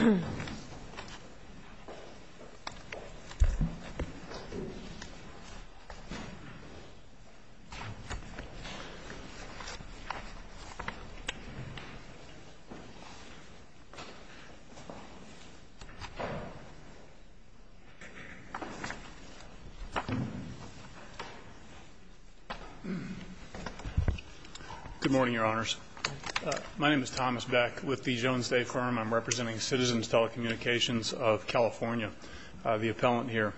Good morning, Your Honors. My name is Thomas Beck with the Jones Day Firm. I'm representing Citizens Telecommunications of California, the appellant here.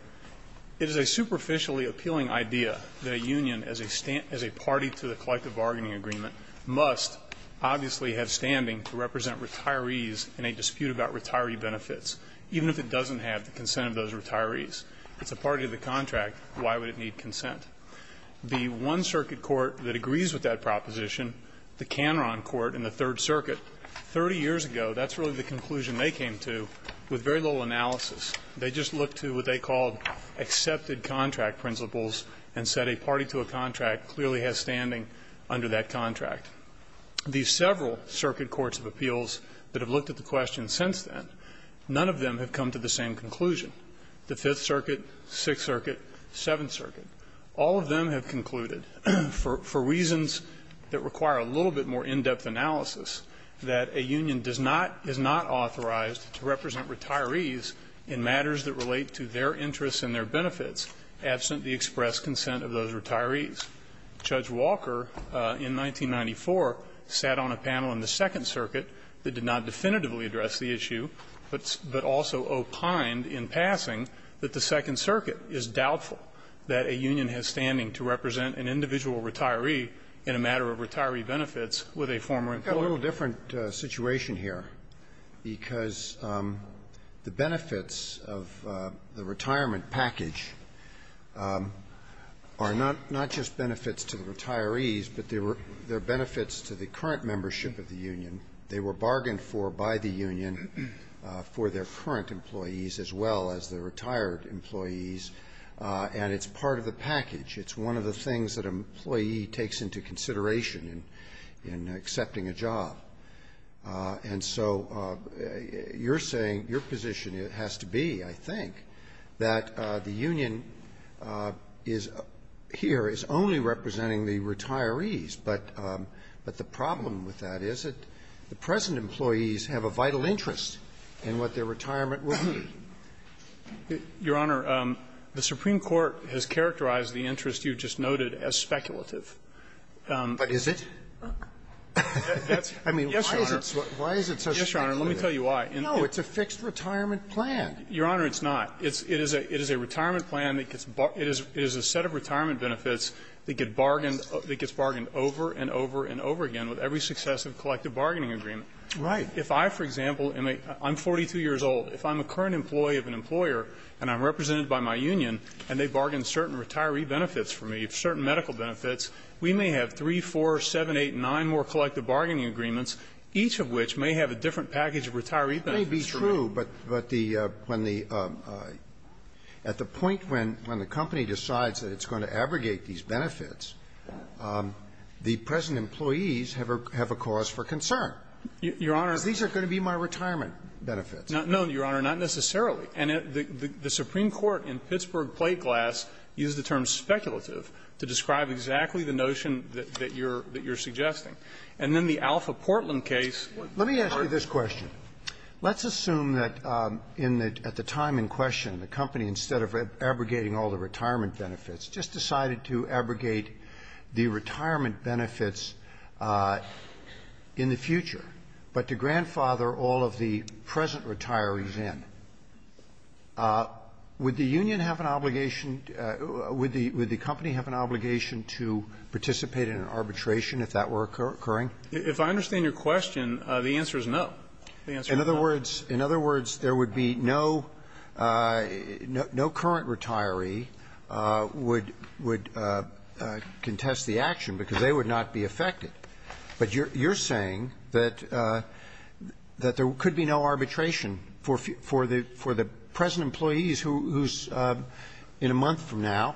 It is a superficially appealing idea that a union as a party to the collective bargaining agreement must obviously have standing to represent retirees in a dispute about retiree benefits, even if it doesn't have the consent of those retirees. It's a party to the contract. Why would it need consent? The one circuit court that agrees with that proposition, the Canron Court in the Third Circuit, 30 years ago, that's really the conclusion they came to with very little analysis. They just looked to what they called accepted contract principles and said a party to a contract clearly has standing under that contract. The several circuit courts of appeals that have looked at the question since then, none of them have come to the same conclusion. The Fifth Circuit, Sixth Circuit, Seventh Circuit, all of them have concluded, for reasons that require a little bit more in-depth analysis, that a union is not authorized to represent retirees in matters that relate to their interests and their benefits, absent the expressed consent of those retirees. Judge Walker, in 1994, sat on a panel in the Second Circuit that did not definitively address the issue, but also opined in passing that the Second Circuit is doubtful that a union has standing to represent an individual retiree in a matter of retiree benefits with a former employer. I've got a little different situation here, because the benefits of the retirement package are not just benefits to the retirees, but they're benefits to the current membership of the union. They were bargained for by the union for their current employees as well as the retired employees, and it's part of the package. It's one of the things that an employee takes into consideration in accepting a job. And so you're saying, your position has to be, I think, that the union is here, is only the present employees have a vital interest in what their retirement will be. Walker, Your Honor, the Supreme Court has characterized the interest you just noted as speculative. But is it? I mean, why is it so speculative? Yes, Your Honor. Let me tell you why. No, it's a fixed retirement plan. Your Honor, it's not. It is a retirement plan that gets barred – it is a set of retirement benefits that get bargained – that gets bargained over and over and over again with every successive collective bargaining agreement. Right. If I, for example, am a – I'm 42 years old. If I'm a current employee of an employer and I'm represented by my union and they bargain certain retiree benefits for me, certain medical benefits, we may have 3, 4, 7, 8, 9 more collective bargaining agreements, each of which may have a different package of retiree benefits for me. It may be true, but the – when the – at the point when the company decides that it's going to abrogate these benefits, the present employees have a – have a cause for concern. Your Honor – Because these are going to be my retirement benefits. No, Your Honor, not necessarily. And the Supreme Court in Pittsburgh plate glass used the term speculative to describe exactly the notion that you're – that you're suggesting. And then the Alpha Portland case – Let me ask you this question. Let's assume that in the – at the time in question, the company, instead of abrogating all the retirement benefits, just decided to abrogate the retirement benefits in the future. But to grandfather all of the present retirees in, would the union have an obligation – would the company have an obligation to participate in an arbitration if that were occurring? If I understand your question, the answer is no. The answer is no. In other words – in other words, there would be no – no current retiree would – would contest the action, because they would not be affected. But you're saying that – that there could be no arbitration for – for the – for the present employees who's, in a month from now,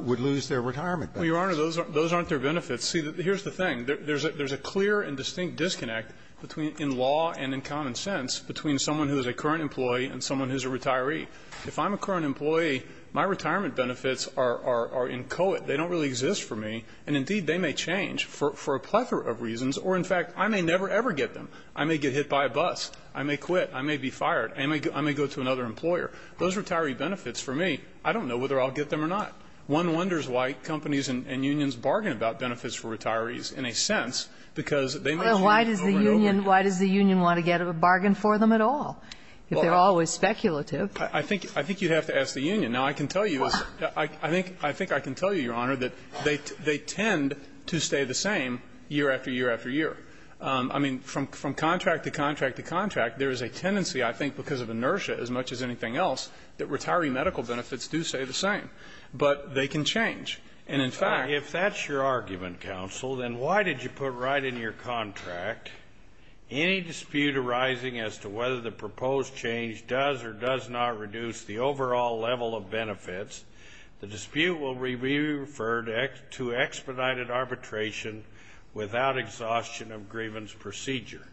would lose their retirement benefits. Well, Your Honor, those aren't – those aren't their benefits. See, here's the thing. There's a – there's a clear and distinct disconnect between – in law and in common sense between someone who's a current employee and someone who's a retiree. If I'm a current employee, my retirement benefits are – are – are inchoate. They don't really exist for me. And indeed, they may change for – for a plethora of reasons. Or, in fact, I may never, ever get them. I may get hit by a bus. I may quit. I may be fired. I may – I may go to another employer. Those retiree benefits, for me, I don't know whether I'll get them or not. One wonders why companies and – and unions bargain about benefits for retirees in a sense, because they may change over and over again. Well, why does the union – why does the union want to get a bargain for them at all, if they're always speculative? I think – I think you'd have to ask the union. Now, I can tell you – I think – I think I can tell you, Your Honor, that they – they tend to stay the same year after year after year. I mean, from – from contract to contract to contract, there is a tendency, I think, because of inertia as much as anything else, that retiree medical benefits do stay the same. But they can change. And in fact – If that's your argument, counsel, then why did you put right in your contract, any dispute arising as to whether the proposed change does or does not reduce the overall level of benefits, the dispute will be referred to expedited arbitration without exhaustion of grievance procedure.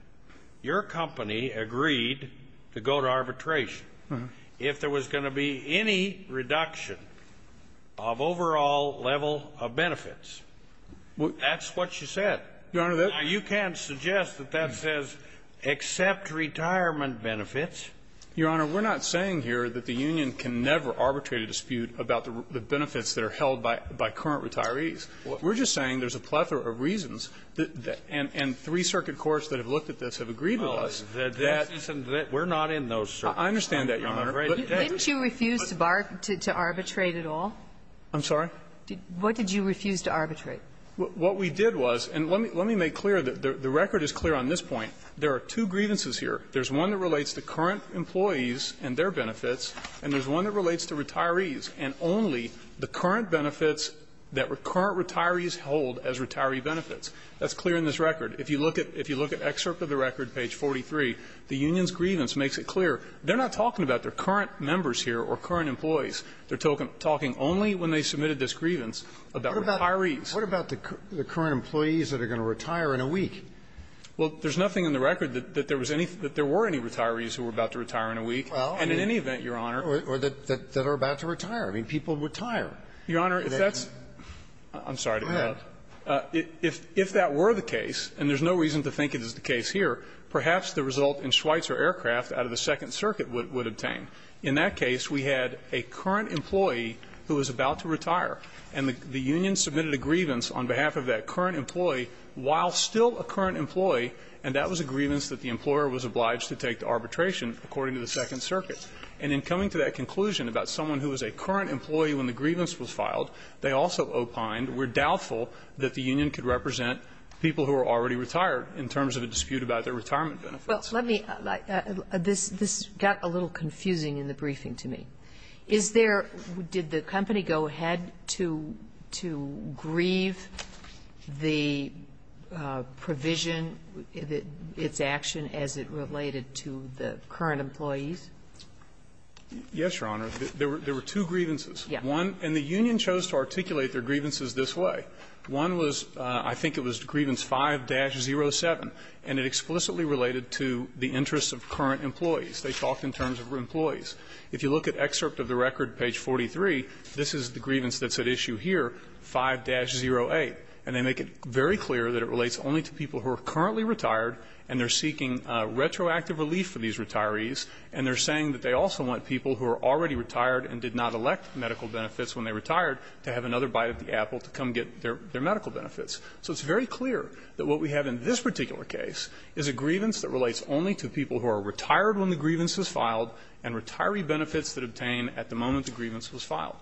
Your company agreed to go to arbitration. If there was going to be any reduction of overall level of benefits, that's what you said. Your Honor, that – Now, you can't suggest that that says, accept retirement benefits. Your Honor, we're not saying here that the union can never arbitrate a dispute about the benefits that are held by – by current retirees. We're just saying there's a plethora of reasons that – and – and three circuit courts that have looked at this have agreed with us that – Well, the difference isn't that we're not in those circuits. I understand that, Your Honor. Didn't you refuse to arbitrate at all? I'm sorry? What did you refuse to arbitrate? What we did was – and let me make clear that the record is clear on this point. There are two grievances here. There's one that relates to current employees and their benefits, and there's one that relates to retirees and only the current benefits that current retirees hold as retiree benefits. That's clear in this record. If you look at – if you look at excerpt of the record, page 43, the union's grievance is clear. They're not talking about their current members here or current employees. They're talking only when they submitted this grievance about retirees. What about the current employees that are going to retire in a week? Well, there's nothing in the record that there was any – that there were any retirees who were about to retire in a week. Well, I mean – And in any event, Your Honor – Or that – that are about to retire. I mean, people retire. Your Honor, if that's – I'm sorry to interrupt. Go ahead. If that were the case, and there's no reason to think it is the case here, perhaps the result in Schweitzer Aircraft out of the Second Circuit would – would obtain. In that case, we had a current employee who was about to retire, and the – the union submitted a grievance on behalf of that current employee while still a current employee, and that was a grievance that the employer was obliged to take to arbitration, according to the Second Circuit. And in coming to that conclusion about someone who was a current employee when the grievance was filed, they also opined, we're doubtful that the union could represent people who are already retired in terms of a dispute about their retirement benefits. Well, let me – this – this got a little confusing in the briefing to me. Is there – did the company go ahead to – to grieve the provision, its action, as it related to the current employees? Yes, Your Honor. There were – there were two grievances. Yes. One – and the union chose to articulate their grievances this way. One was – I think it was grievance 5-07, and it explicitly related to the interests of current employees. They talked in terms of employees. If you look at excerpt of the record, page 43, this is the grievance that's at issue here, 5-08. And they make it very clear that it relates only to people who are currently retired, and they're seeking retroactive relief for these retirees, and they're saying that they also want people who are already retired and did not elect medical benefits when they retired to have another bite at the apple to come get their – their medical benefits. So it's very clear that what we have in this particular case is a grievance that relates only to people who are retired when the grievance was filed and retiree benefits that obtain at the moment the grievance was filed.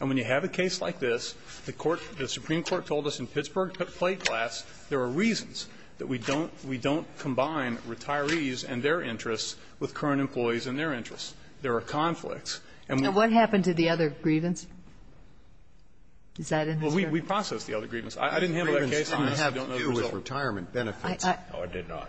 And when you have a case like this, the court – the Supreme Court told us in Pittsburgh plate class there are reasons that we don't – we don't combine retirees and their interests with current employees and their interests. There are conflicts. And we – And what happened to the other grievance? Is that in this case? Well, we processed the other grievance. I didn't handle that case. The grievance didn't have to do with retirement benefits. No, it did not.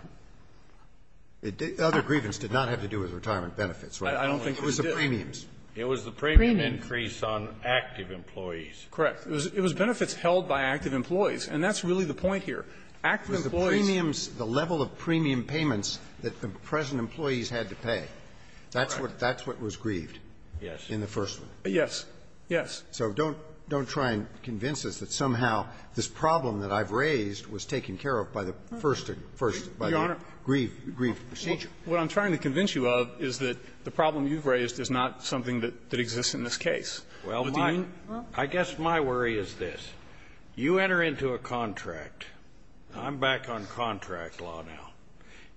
Other grievance did not have to do with retirement benefits, right? I don't think it did. It was the premiums. It was the premium increase on active employees. Correct. It was benefits held by active employees. And that's really the point here. Active employees – It was the premiums, the level of premium payments that the present employees had to pay. That's what – that's what was grieved. Yes. In the first one. Yes. Yes. So don't – don't try and convince us that somehow this problem that I've raised was taken care of by the first – first – by the grieved procedure. Your Honor, what I'm trying to convince you of is that the problem you've raised is not something that exists in this case. Well, my – I guess my worry is this. You enter into a contract – I'm back on contract law now.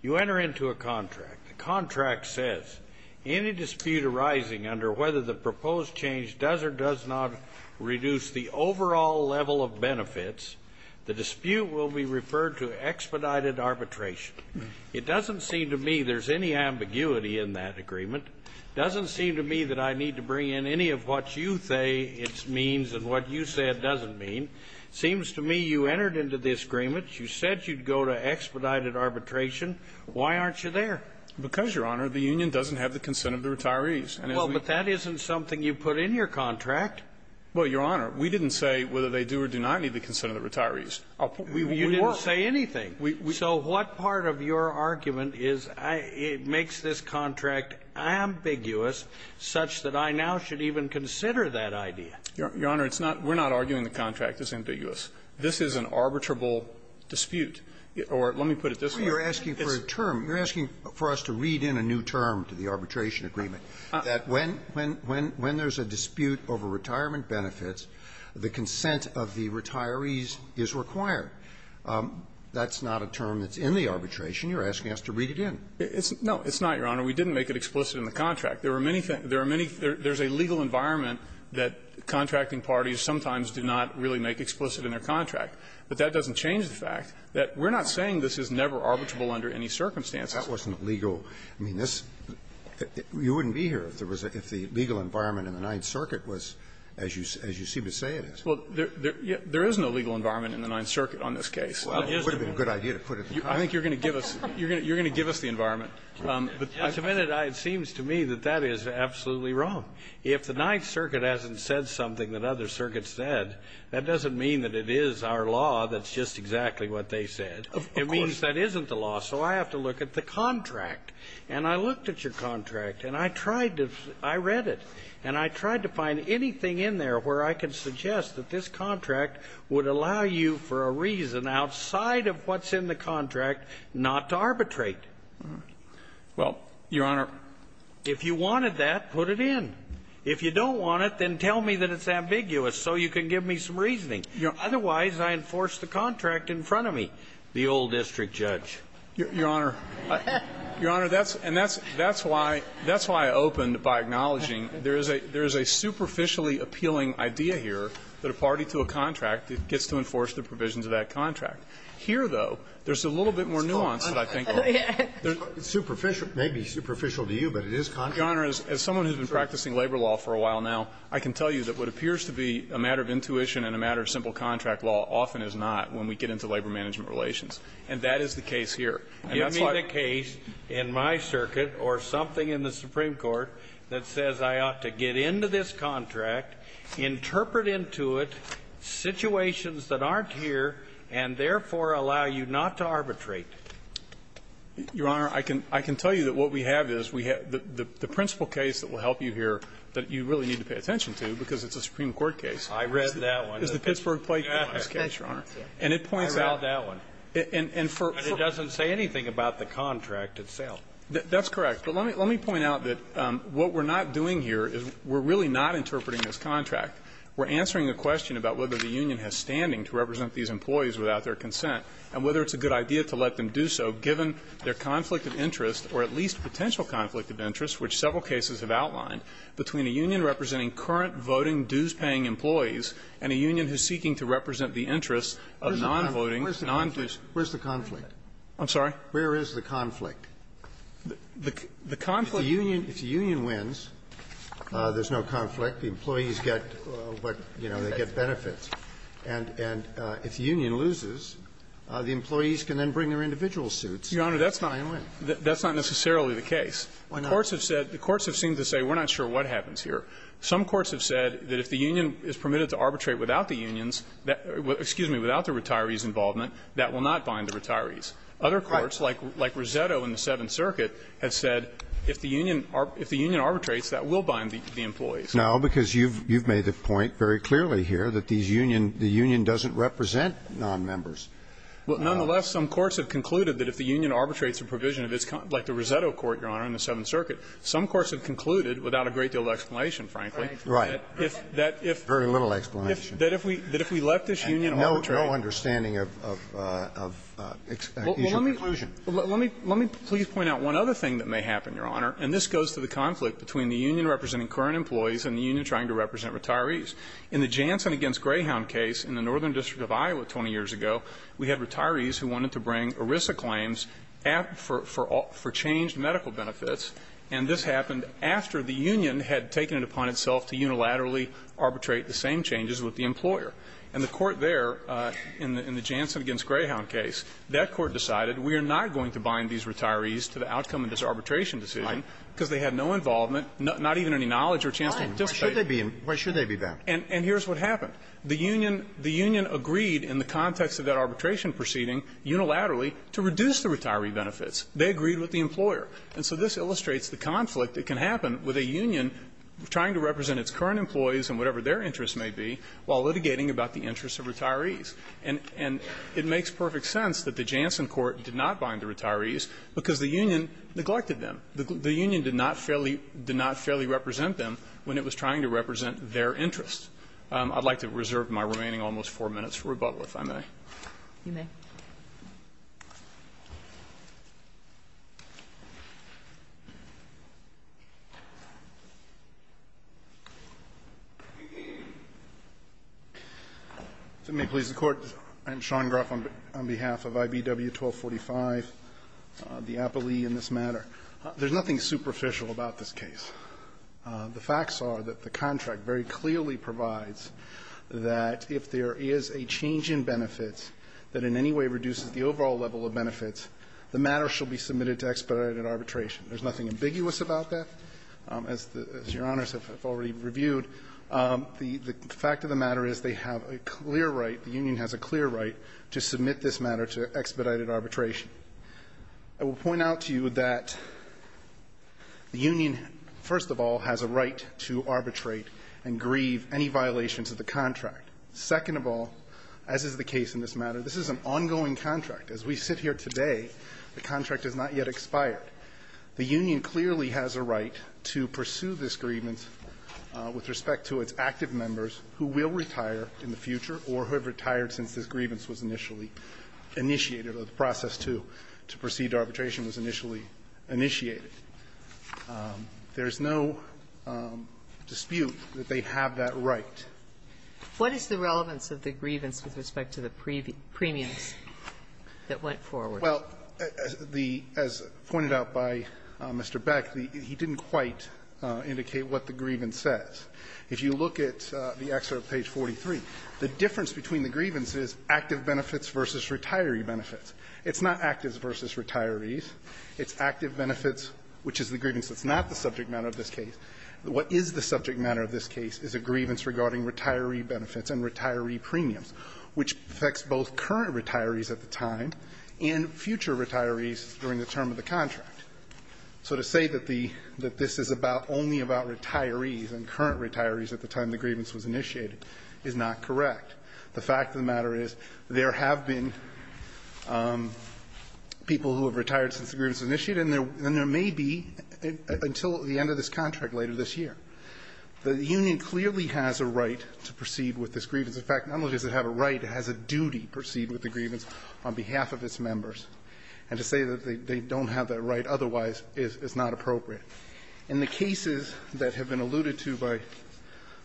You enter into a contract. The contract says, any dispute arising under whether the proposed change does or does not reduce the overall level of benefits, the dispute will be referred to expedited arbitration. It doesn't seem to me there's any ambiguity in that agreement. Doesn't seem to me that I need to bring in any of what you say it means and what you say it doesn't mean. Seems to me you entered into this agreement. You said you'd go to expedited arbitration. Why aren't you there? Because, Your Honor, the union doesn't have the consent of the retirees. Well, but that isn't something you put in your contract. Well, Your Honor, we didn't say whether they do or do not need the consent of the retirees. You didn't say anything. So what part of your argument is it makes this contract ambiguous such that I now should even consider that idea? Your Honor, it's not – we're not arguing the contract is ambiguous. This is an arbitrable dispute. Or let me put it this way. You're asking for a term. You're asking for us to read in a new term to the arbitration agreement, that when there's a dispute over retirement benefits, the consent of the retirees is required. That's not a term that's in the arbitration. You're asking us to read it in. No, it's not, Your Honor. We didn't make it explicit in the contract. There are many things. There are many – there's a legal environment that contracting parties sometimes do not really make explicit in their contract. But that doesn't change the fact that we're not saying this is never arbitrable under any circumstances. That wasn't legal. I mean, this – you wouldn't be here if there was a – if the legal environment in the Ninth Circuit was as you – as you seem to say it is. Well, there is no legal environment in the Ninth Circuit on this case. Well, it would have been a good idea to put it in the contract. I think you're going to give us – you're going to give us the environment. I commend it. It seems to me that that is absolutely wrong. If the Ninth Circuit hasn't said something that other circuits said, that doesn't mean that it is our law that's just exactly what they said. Of course. It means that isn't the law. So I have to look at the contract. And I looked at your contract, and I tried to – I read it. And I tried to find anything in there where I could suggest that this contract would allow you for a reason outside of what's in the contract not to arbitrate. Well, Your Honor, if you wanted that, put it in. If you don't want it, then tell me that it's ambiguous so you can give me some reasoning. Otherwise, I enforce the contract in front of me, the old district judge. Your Honor, that's – and that's why I opened by acknowledging there is a superficially appealing idea here that a party to a contract gets to enforce the provisions of that contract. Here, though, there's a little bit more nuance that I think – It's superficial. It may be superficial to you, but it is contract. Your Honor, as someone who's been practicing labor law for a while now, I can tell you that what appears to be a matter of intuition and a matter of simple contract law often is not when we get into labor management relations. And that is the case here. And that's why – Give me the case in my circuit or something in the Supreme Court that says I ought to get into this contract, interpret into it situations that aren't here, and therefore allow you not to arbitrate. Your Honor, I can – I can tell you that what we have is we have – the principal case that will help you here that you really need to pay attention to because it's a Supreme Court case. I read that one. It's the Pittsburgh Plague Case, Your Honor. And it points out – I read that one. And for – But it doesn't say anything about the contract itself. That's correct. But let me point out that what we're not doing here is we're really not interpreting this contract. We're answering the question about whether the union has standing to represent these employees without their consent and whether it's a good idea to let them do so given their conflict of interest or at least potential conflict of interest, which several cases have outlined, between a union representing current voting dues-paying employees and a union who's seeking to represent the interests of non-voting, non-dues-paying employees. Where's the conflict? I'm sorry? Where is the conflict? The conflict? If the union – if the union wins, there's no conflict. The employees get what, you know, they get benefits. And if the union loses, the employees can then bring their individual suits and try and win. Your Honor, that's not necessarily the case. Why not? The courts have said – the courts have seemed to say we're not sure what happens here. Some courts have said that if the union is permitted to arbitrate without the unions – excuse me, without the retirees' involvement, that will not bind the retirees. Right. Other courts, like Rosetto in the Seventh Circuit, have said if the union – if the union arbitrates, that will bind the employees. No, because you've made the point very clearly here that these union – the union doesn't represent nonmembers. Well, nonetheless, some courts have concluded that if the union arbitrates a provision of its – like the Rosetto Court, Your Honor, in the Seventh Circuit, some courts have concluded, without a great deal of explanation, frankly, that if – Right. Right. Very little explanation. That if we – that if we let this union arbitrate – And no – no understanding of – of exclusion. Well, let me – let me – let me please point out one other thing that may happen, Your Honor, and this goes to the conflict between the union representing current employees and the union trying to represent retirees. In the Jansen v. Greyhound case in the Northern District of Iowa 20 years ago, we had for – for changed medical benefits, and this happened after the union had taken it upon itself to unilaterally arbitrate the same changes with the employer. And the court there, in the Jansen v. Greyhound case, that court decided we are not going to bind these retirees to the outcome of this arbitration decision because they had no involvement, not even any knowledge or chance to participate. Why should they be – why should they be bound? And here's what happened. The union – the union agreed in the context of that arbitration proceeding unilaterally to reduce the retiree benefits. They agreed with the employer. And so this illustrates the conflict that can happen with a union trying to represent its current employees and whatever their interests may be while litigating about the interests of retirees. And – and it makes perfect sense that the Jansen court did not bind the retirees because the union neglected them. The union did not fairly – did not fairly represent them when it was trying to represent their interests. I'd like to reserve my remaining almost four minutes for rebuttal, if I may. You may. Gruff, on behalf of IBW 1245, the appellee in this matter. There's nothing superficial about this case. The facts are that the contract very clearly provides that if there is a change in benefits that in any way reduces the overall level of benefits, the matter shall be submitted to expedited arbitration. There's nothing ambiguous about that. As the – as Your Honors have already reviewed, the fact of the matter is they have a clear right, the union has a clear right to submit this matter to expedited arbitration. I will point out to you that the union, first of all, has a right to arbitrate and grieve any violations of the contract. Second of all, as is the case in this matter, this is an ongoing contract. As we sit here today, the contract has not yet expired. The union clearly has a right to pursue this grievance with respect to its active members who will retire in the future or who have retired since this grievance was initially initiated or the process to proceed to arbitration was initially initiated. There's no dispute that they have that right. What is the relevance of the grievance with respect to the premiums that went forward? Well, the – as pointed out by Mr. Beck, he didn't quite indicate what the grievance says. If you look at the excerpt of page 43, the difference between the grievances is active benefits versus retiree benefits. It's not active versus retirees. It's active benefits, which is the grievance that's not the subject matter of this case. What is the subject matter of this case is a grievance regarding retiree benefits and retiree premiums, which affects both current retirees at the time and future retirees during the term of the contract. So to say that the – that this is about only about retirees and current retirees at the time the grievance was initiated is not correct. The fact of the matter is there have been people who have retired since the grievance was initiated, and there may be until the end of this contract later this year. The union clearly has a right to proceed with this grievance. In fact, not only does it have a right, it has a duty to proceed with the grievance on behalf of its members. And to say that they don't have that right otherwise is not appropriate. In the cases that have been alluded to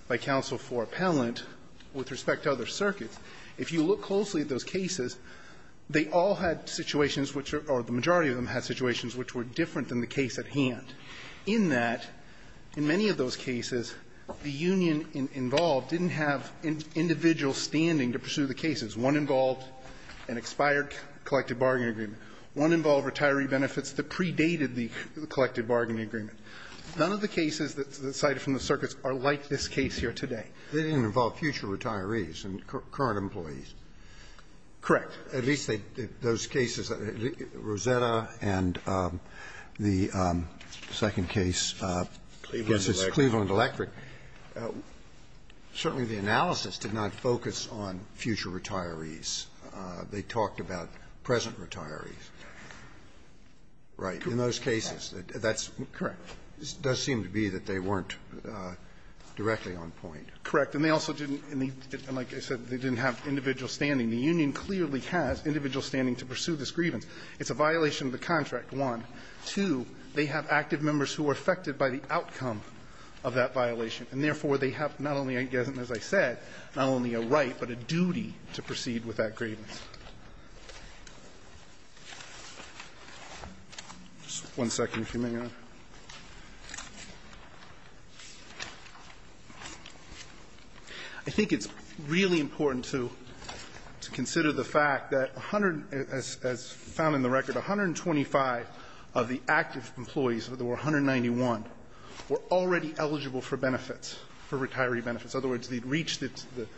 by counsel for appellant with respect to other circuits, if you look closely at those cases, they all had situations which are – or the majority of them had situations which were different than the case at hand, in that, in many of those cases, the union involved didn't have individual standing to pursue the cases. One involved an expired collective bargaining agreement. One involved retiree benefits that predated the collective bargaining agreement. None of the cases that's cited from the circuits are like this case here today. They didn't involve future retirees and current employees. Correct. At least they – those cases, Rosetta and the second case, Cleveland Electric. Certainly, the analysis did not focus on future retirees. They talked about present retirees. Right. In those cases, that's – Correct. It does seem to be that they weren't directly on point. Correct. And they also didn't – and like I said, they didn't have individual standing. The union clearly has individual standing to pursue this grievance. It's a violation of the contract, one. Two, they have active members who are affected by the outcome of that violation. And therefore, they have not only, as I said, not only a right, but a duty to proceed with that grievance. Just one second if you may, Your Honor. I think it's really important to consider the fact that 100 – as found in the record, 125 of the active employees, there were 191, were already eligible for benefits, for retiree benefits. In other words, they'd reached the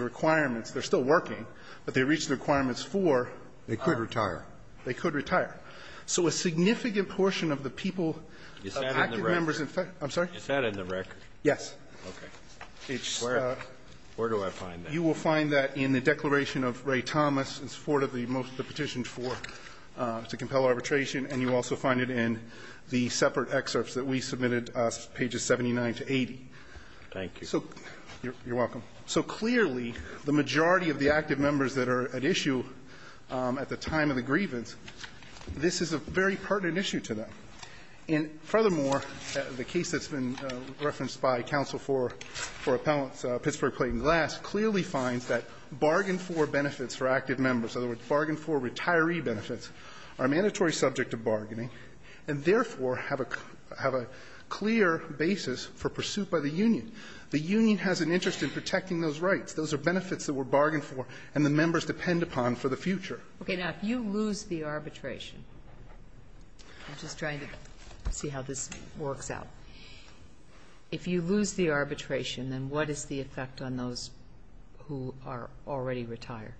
requirements. They're still working, but they reached the requirements for – They could retire. They could retire. So a significant portion of the people of active members in fact – Is that in the record? I'm sorry? Is that in the record? Yes. Okay. Where? Where do I find that? You will find that in the declaration of Ray Thomas in support of the most of the petitions for – to compel arbitration, and you also find it in the separate excerpts that we submitted, pages 79 to 80. Thank you. You're welcome. So clearly the majority of the active members that are at issue at the time of the grievance, this is a very pertinent issue to them. And furthermore, the case that's been referenced by counsel for appellants, Pittsburgh, Clayton, Glass, clearly finds that bargain-for benefits for active members, in other words, bargain-for retiree benefits, are mandatory subject to bargaining and therefore have a clear basis for pursuit by the union. The union has an interest in protecting those rights. Those are benefits that were bargained for and the members depend upon for the future. Okay. Now, if you lose the arbitration, I'm just trying to see how this works out. If you lose the arbitration, then what is the effect on those who are already retired?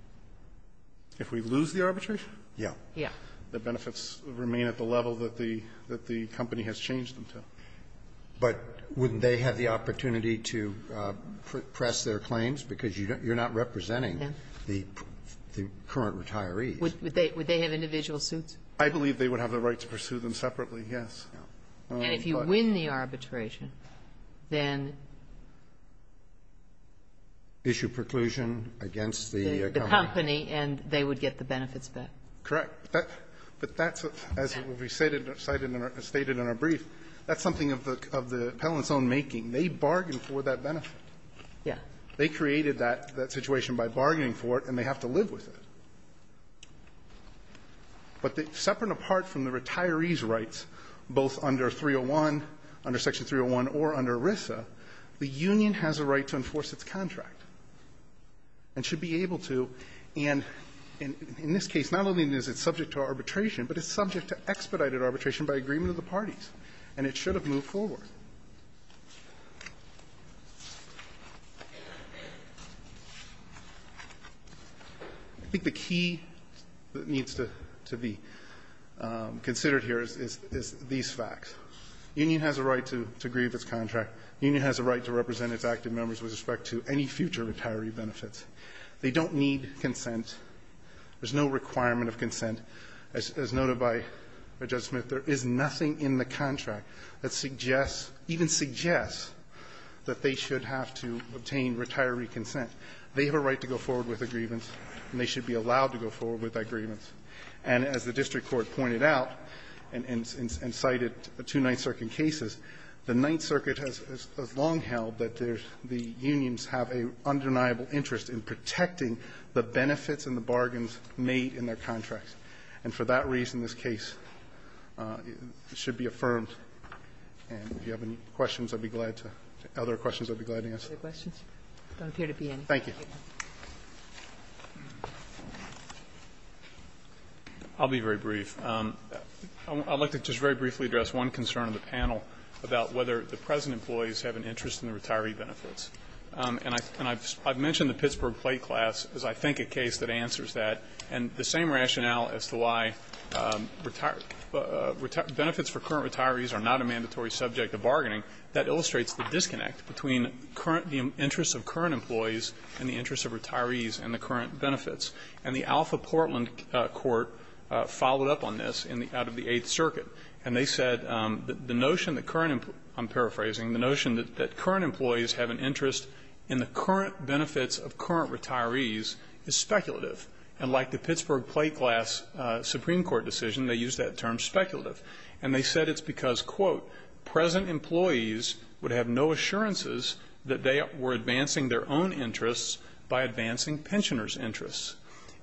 If we lose the arbitration? Yes. Yes. The benefits remain at the level that the company has changed them to. But wouldn't they have the opportunity to press their claims? Because you're not representing the current retirees. Would they have individual suits? I believe they would have the right to pursue them separately, yes. And if you win the arbitration, then? Issue preclusion against the company. The company, and they would get the benefits back. Correct. But that's, as we stated in our brief, that's something of the appellant's own making. They bargain for that benefit. Yes. They created that situation by bargaining for it, and they have to live with it. But separate and apart from the retiree's rights, both under 301, under Section 301 or under ERISA, the union has a right to enforce its contract and should be able to. And in this case, not only is it subject to arbitration, but it's subject to expedited arbitration by agreement of the parties, and it should have moved forward. I think the key that needs to be considered here is these facts. The union has a right to grieve its contract. The union has a right to represent its active members with respect to any future retiree benefits. They don't need consent. There's no requirement of consent. As noted by Justice Smith, there is nothing in the contract that suggests, even suggests, that they should have to obtain retiree consent. They have a right to go forward with a grievance, and they should be allowed to go forward with that grievance. And as the district court pointed out and cited two Ninth Circuit cases, the Ninth Circuit has long held that the unions have an undeniable interest in protecting the benefits and the bargains made in their contracts. And for that reason, this case should be affirmed. And if you have any questions, I'd be glad to other questions, I'd be glad to answer. Thank you. I'll be very brief. I'd like to just very briefly address one concern of the panel about whether the present employees have an interest in the retiree benefits. And I've mentioned the Pittsburgh plate class is, I think, a case that answers that. And the same rationale as to why benefits for current retirees are not a mandatory subject of bargaining, that illustrates the disconnect between current, the interests of current employees and the interests of retirees and the current benefits. And the Alpha Portland Court followed up on this out of the Eighth Circuit. And they said the notion that current employees, I'm paraphrasing, the notion that current employees have an interest in the current benefits of current retirees is speculative. And like the Pittsburgh plate class Supreme Court decision, they used that term speculative. And they said it's because, quote, present employees would have no assurances that they were advancing their own interests by advancing pensioners' interests.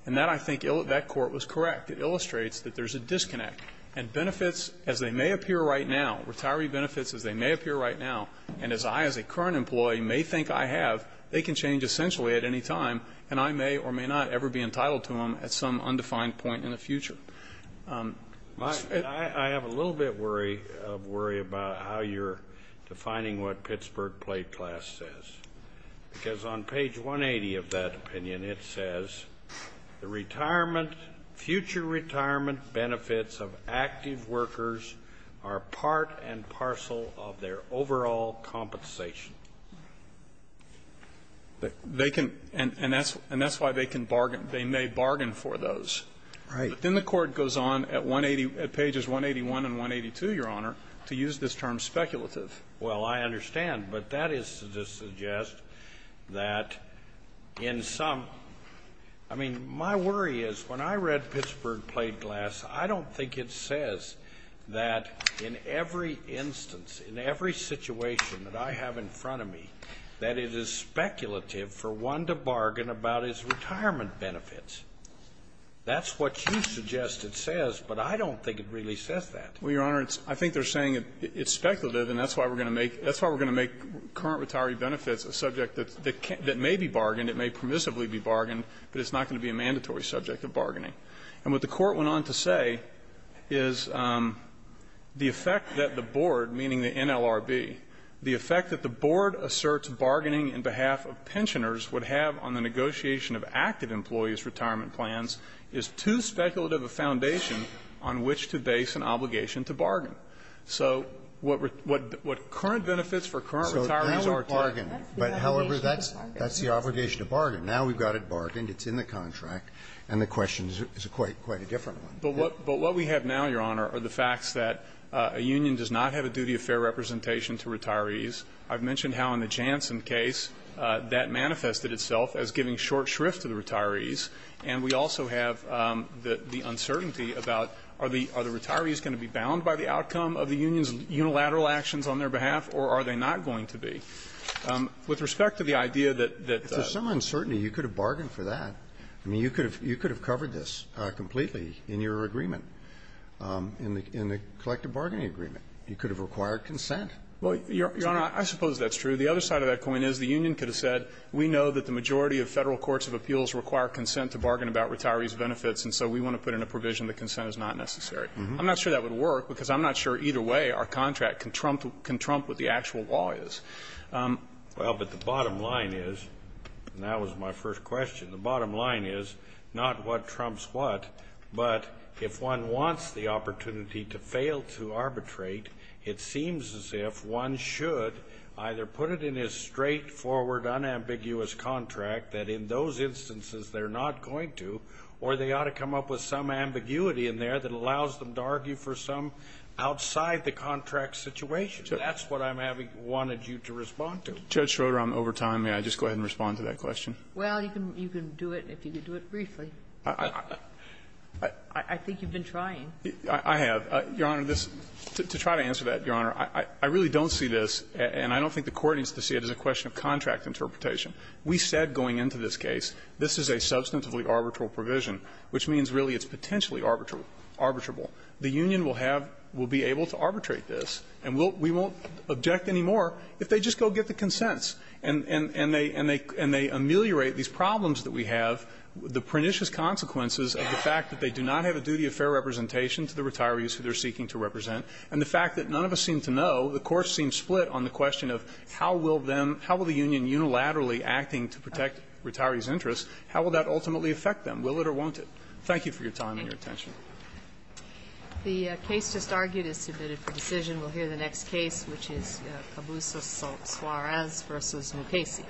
And that, I think, that court was correct. It illustrates that there's a disconnect. And benefits, as they may appear right now, retiree benefits as they may appear right now. And as I, as a current employee, may think I have, they can change essentially at any time. And I may or may not ever be entitled to them at some undefined point in the future. I have a little bit of worry about how you're defining what Pittsburgh plate class says. Because on page 180 of that opinion, it says, the retirement, future retirement benefits of active workers are part and parcel of their overall compensation. They can, and that's why they can bargain. They may bargain for those. Right. But then the Court goes on at 180, at pages 181 and 182, Your Honor, to use this term speculative. Well, I understand. But that is to suggest that in some, I mean, my worry is when I read Pittsburgh plate class, I don't think it says that in every instance, in every situation that I have in front of me, that it is speculative for one to bargain about his retirement benefits. That's what you suggest it says, but I don't think it really says that. Well, Your Honor, I think they're saying it's speculative, and that's why we're going to make, that's why we're going to make current retiree benefits a subject that may be bargained, it may permissively be bargained, but it's not going to be a mandatory subject of bargaining. And what the Court went on to say is the effect that the board, meaning the NLRB, the effect that the board asserts bargaining on behalf of pensioners would have on the negotiation of active employees' retirement plans is too speculative a foundation on which to base an obligation to bargain. So what current benefits for current retirees are to you. But, however, that's the obligation to bargain. Now we've got it bargained. It's in the contract. And the question is quite a different one. But what we have now, Your Honor, are the facts that a union does not have a duty of fair representation to retirees. I've mentioned how in the Janssen case that manifested itself as giving short shrift to the retirees. And we also have the uncertainty about are the retirees going to be bound by the outcome of the union's unilateral actions on their behalf, or are they not going to be? With respect to the idea that the unions are going to be bound by the outcome of the union, I mean, you could have covered this completely in your agreement, in the collective bargaining agreement. You could have required consent. Well, Your Honor, I suppose that's true. The other side of that coin is the union could have said we know that the majority of Federal courts of appeals require consent to bargain about retirees' benefits, and so we want to put in a provision that consent is not necessary. I'm not sure that would work because I'm not sure either way our contract can trump what the actual law is. Well, but the bottom line is, and that was my first question, the bottom line is not what trumps what, but if one wants the opportunity to fail to arbitrate, it seems as if one should either put it in a straightforward, unambiguous contract that in those instances they're not going to, or they ought to come up with some ambiguity in there that allows them to argue for some outside the contract situation. That's what I wanted you to respond to. Judge Schroder, I'm over time. May I just go ahead and respond to that question? Well, you can do it if you could do it briefly. I think you've been trying. I have. Your Honor, this to try to answer that, Your Honor, I really don't see this, and I don't think the Court needs to see it as a question of contract interpretation. We said going into this case this is a substantively arbitral provision, which means really it's potentially arbitrable. The union will have, will be able to arbitrate this, and we won't object anymore if they just go get the consents and they ameliorate these problems that we have, the pernicious consequences of the fact that they do not have a duty of fair representation to the retirees who they're seeking to represent, and the fact that none of us seem to know, the Court seems split on the question of how will them, how will the union unilaterally acting to protect retirees' interests, how will that ultimately affect them, will it or won't it? Thank you for your time and your attention. The case just argued is submitted for decision. We'll hear the next case, which is Cabusa-Suarez v. Mukasey. Thank you.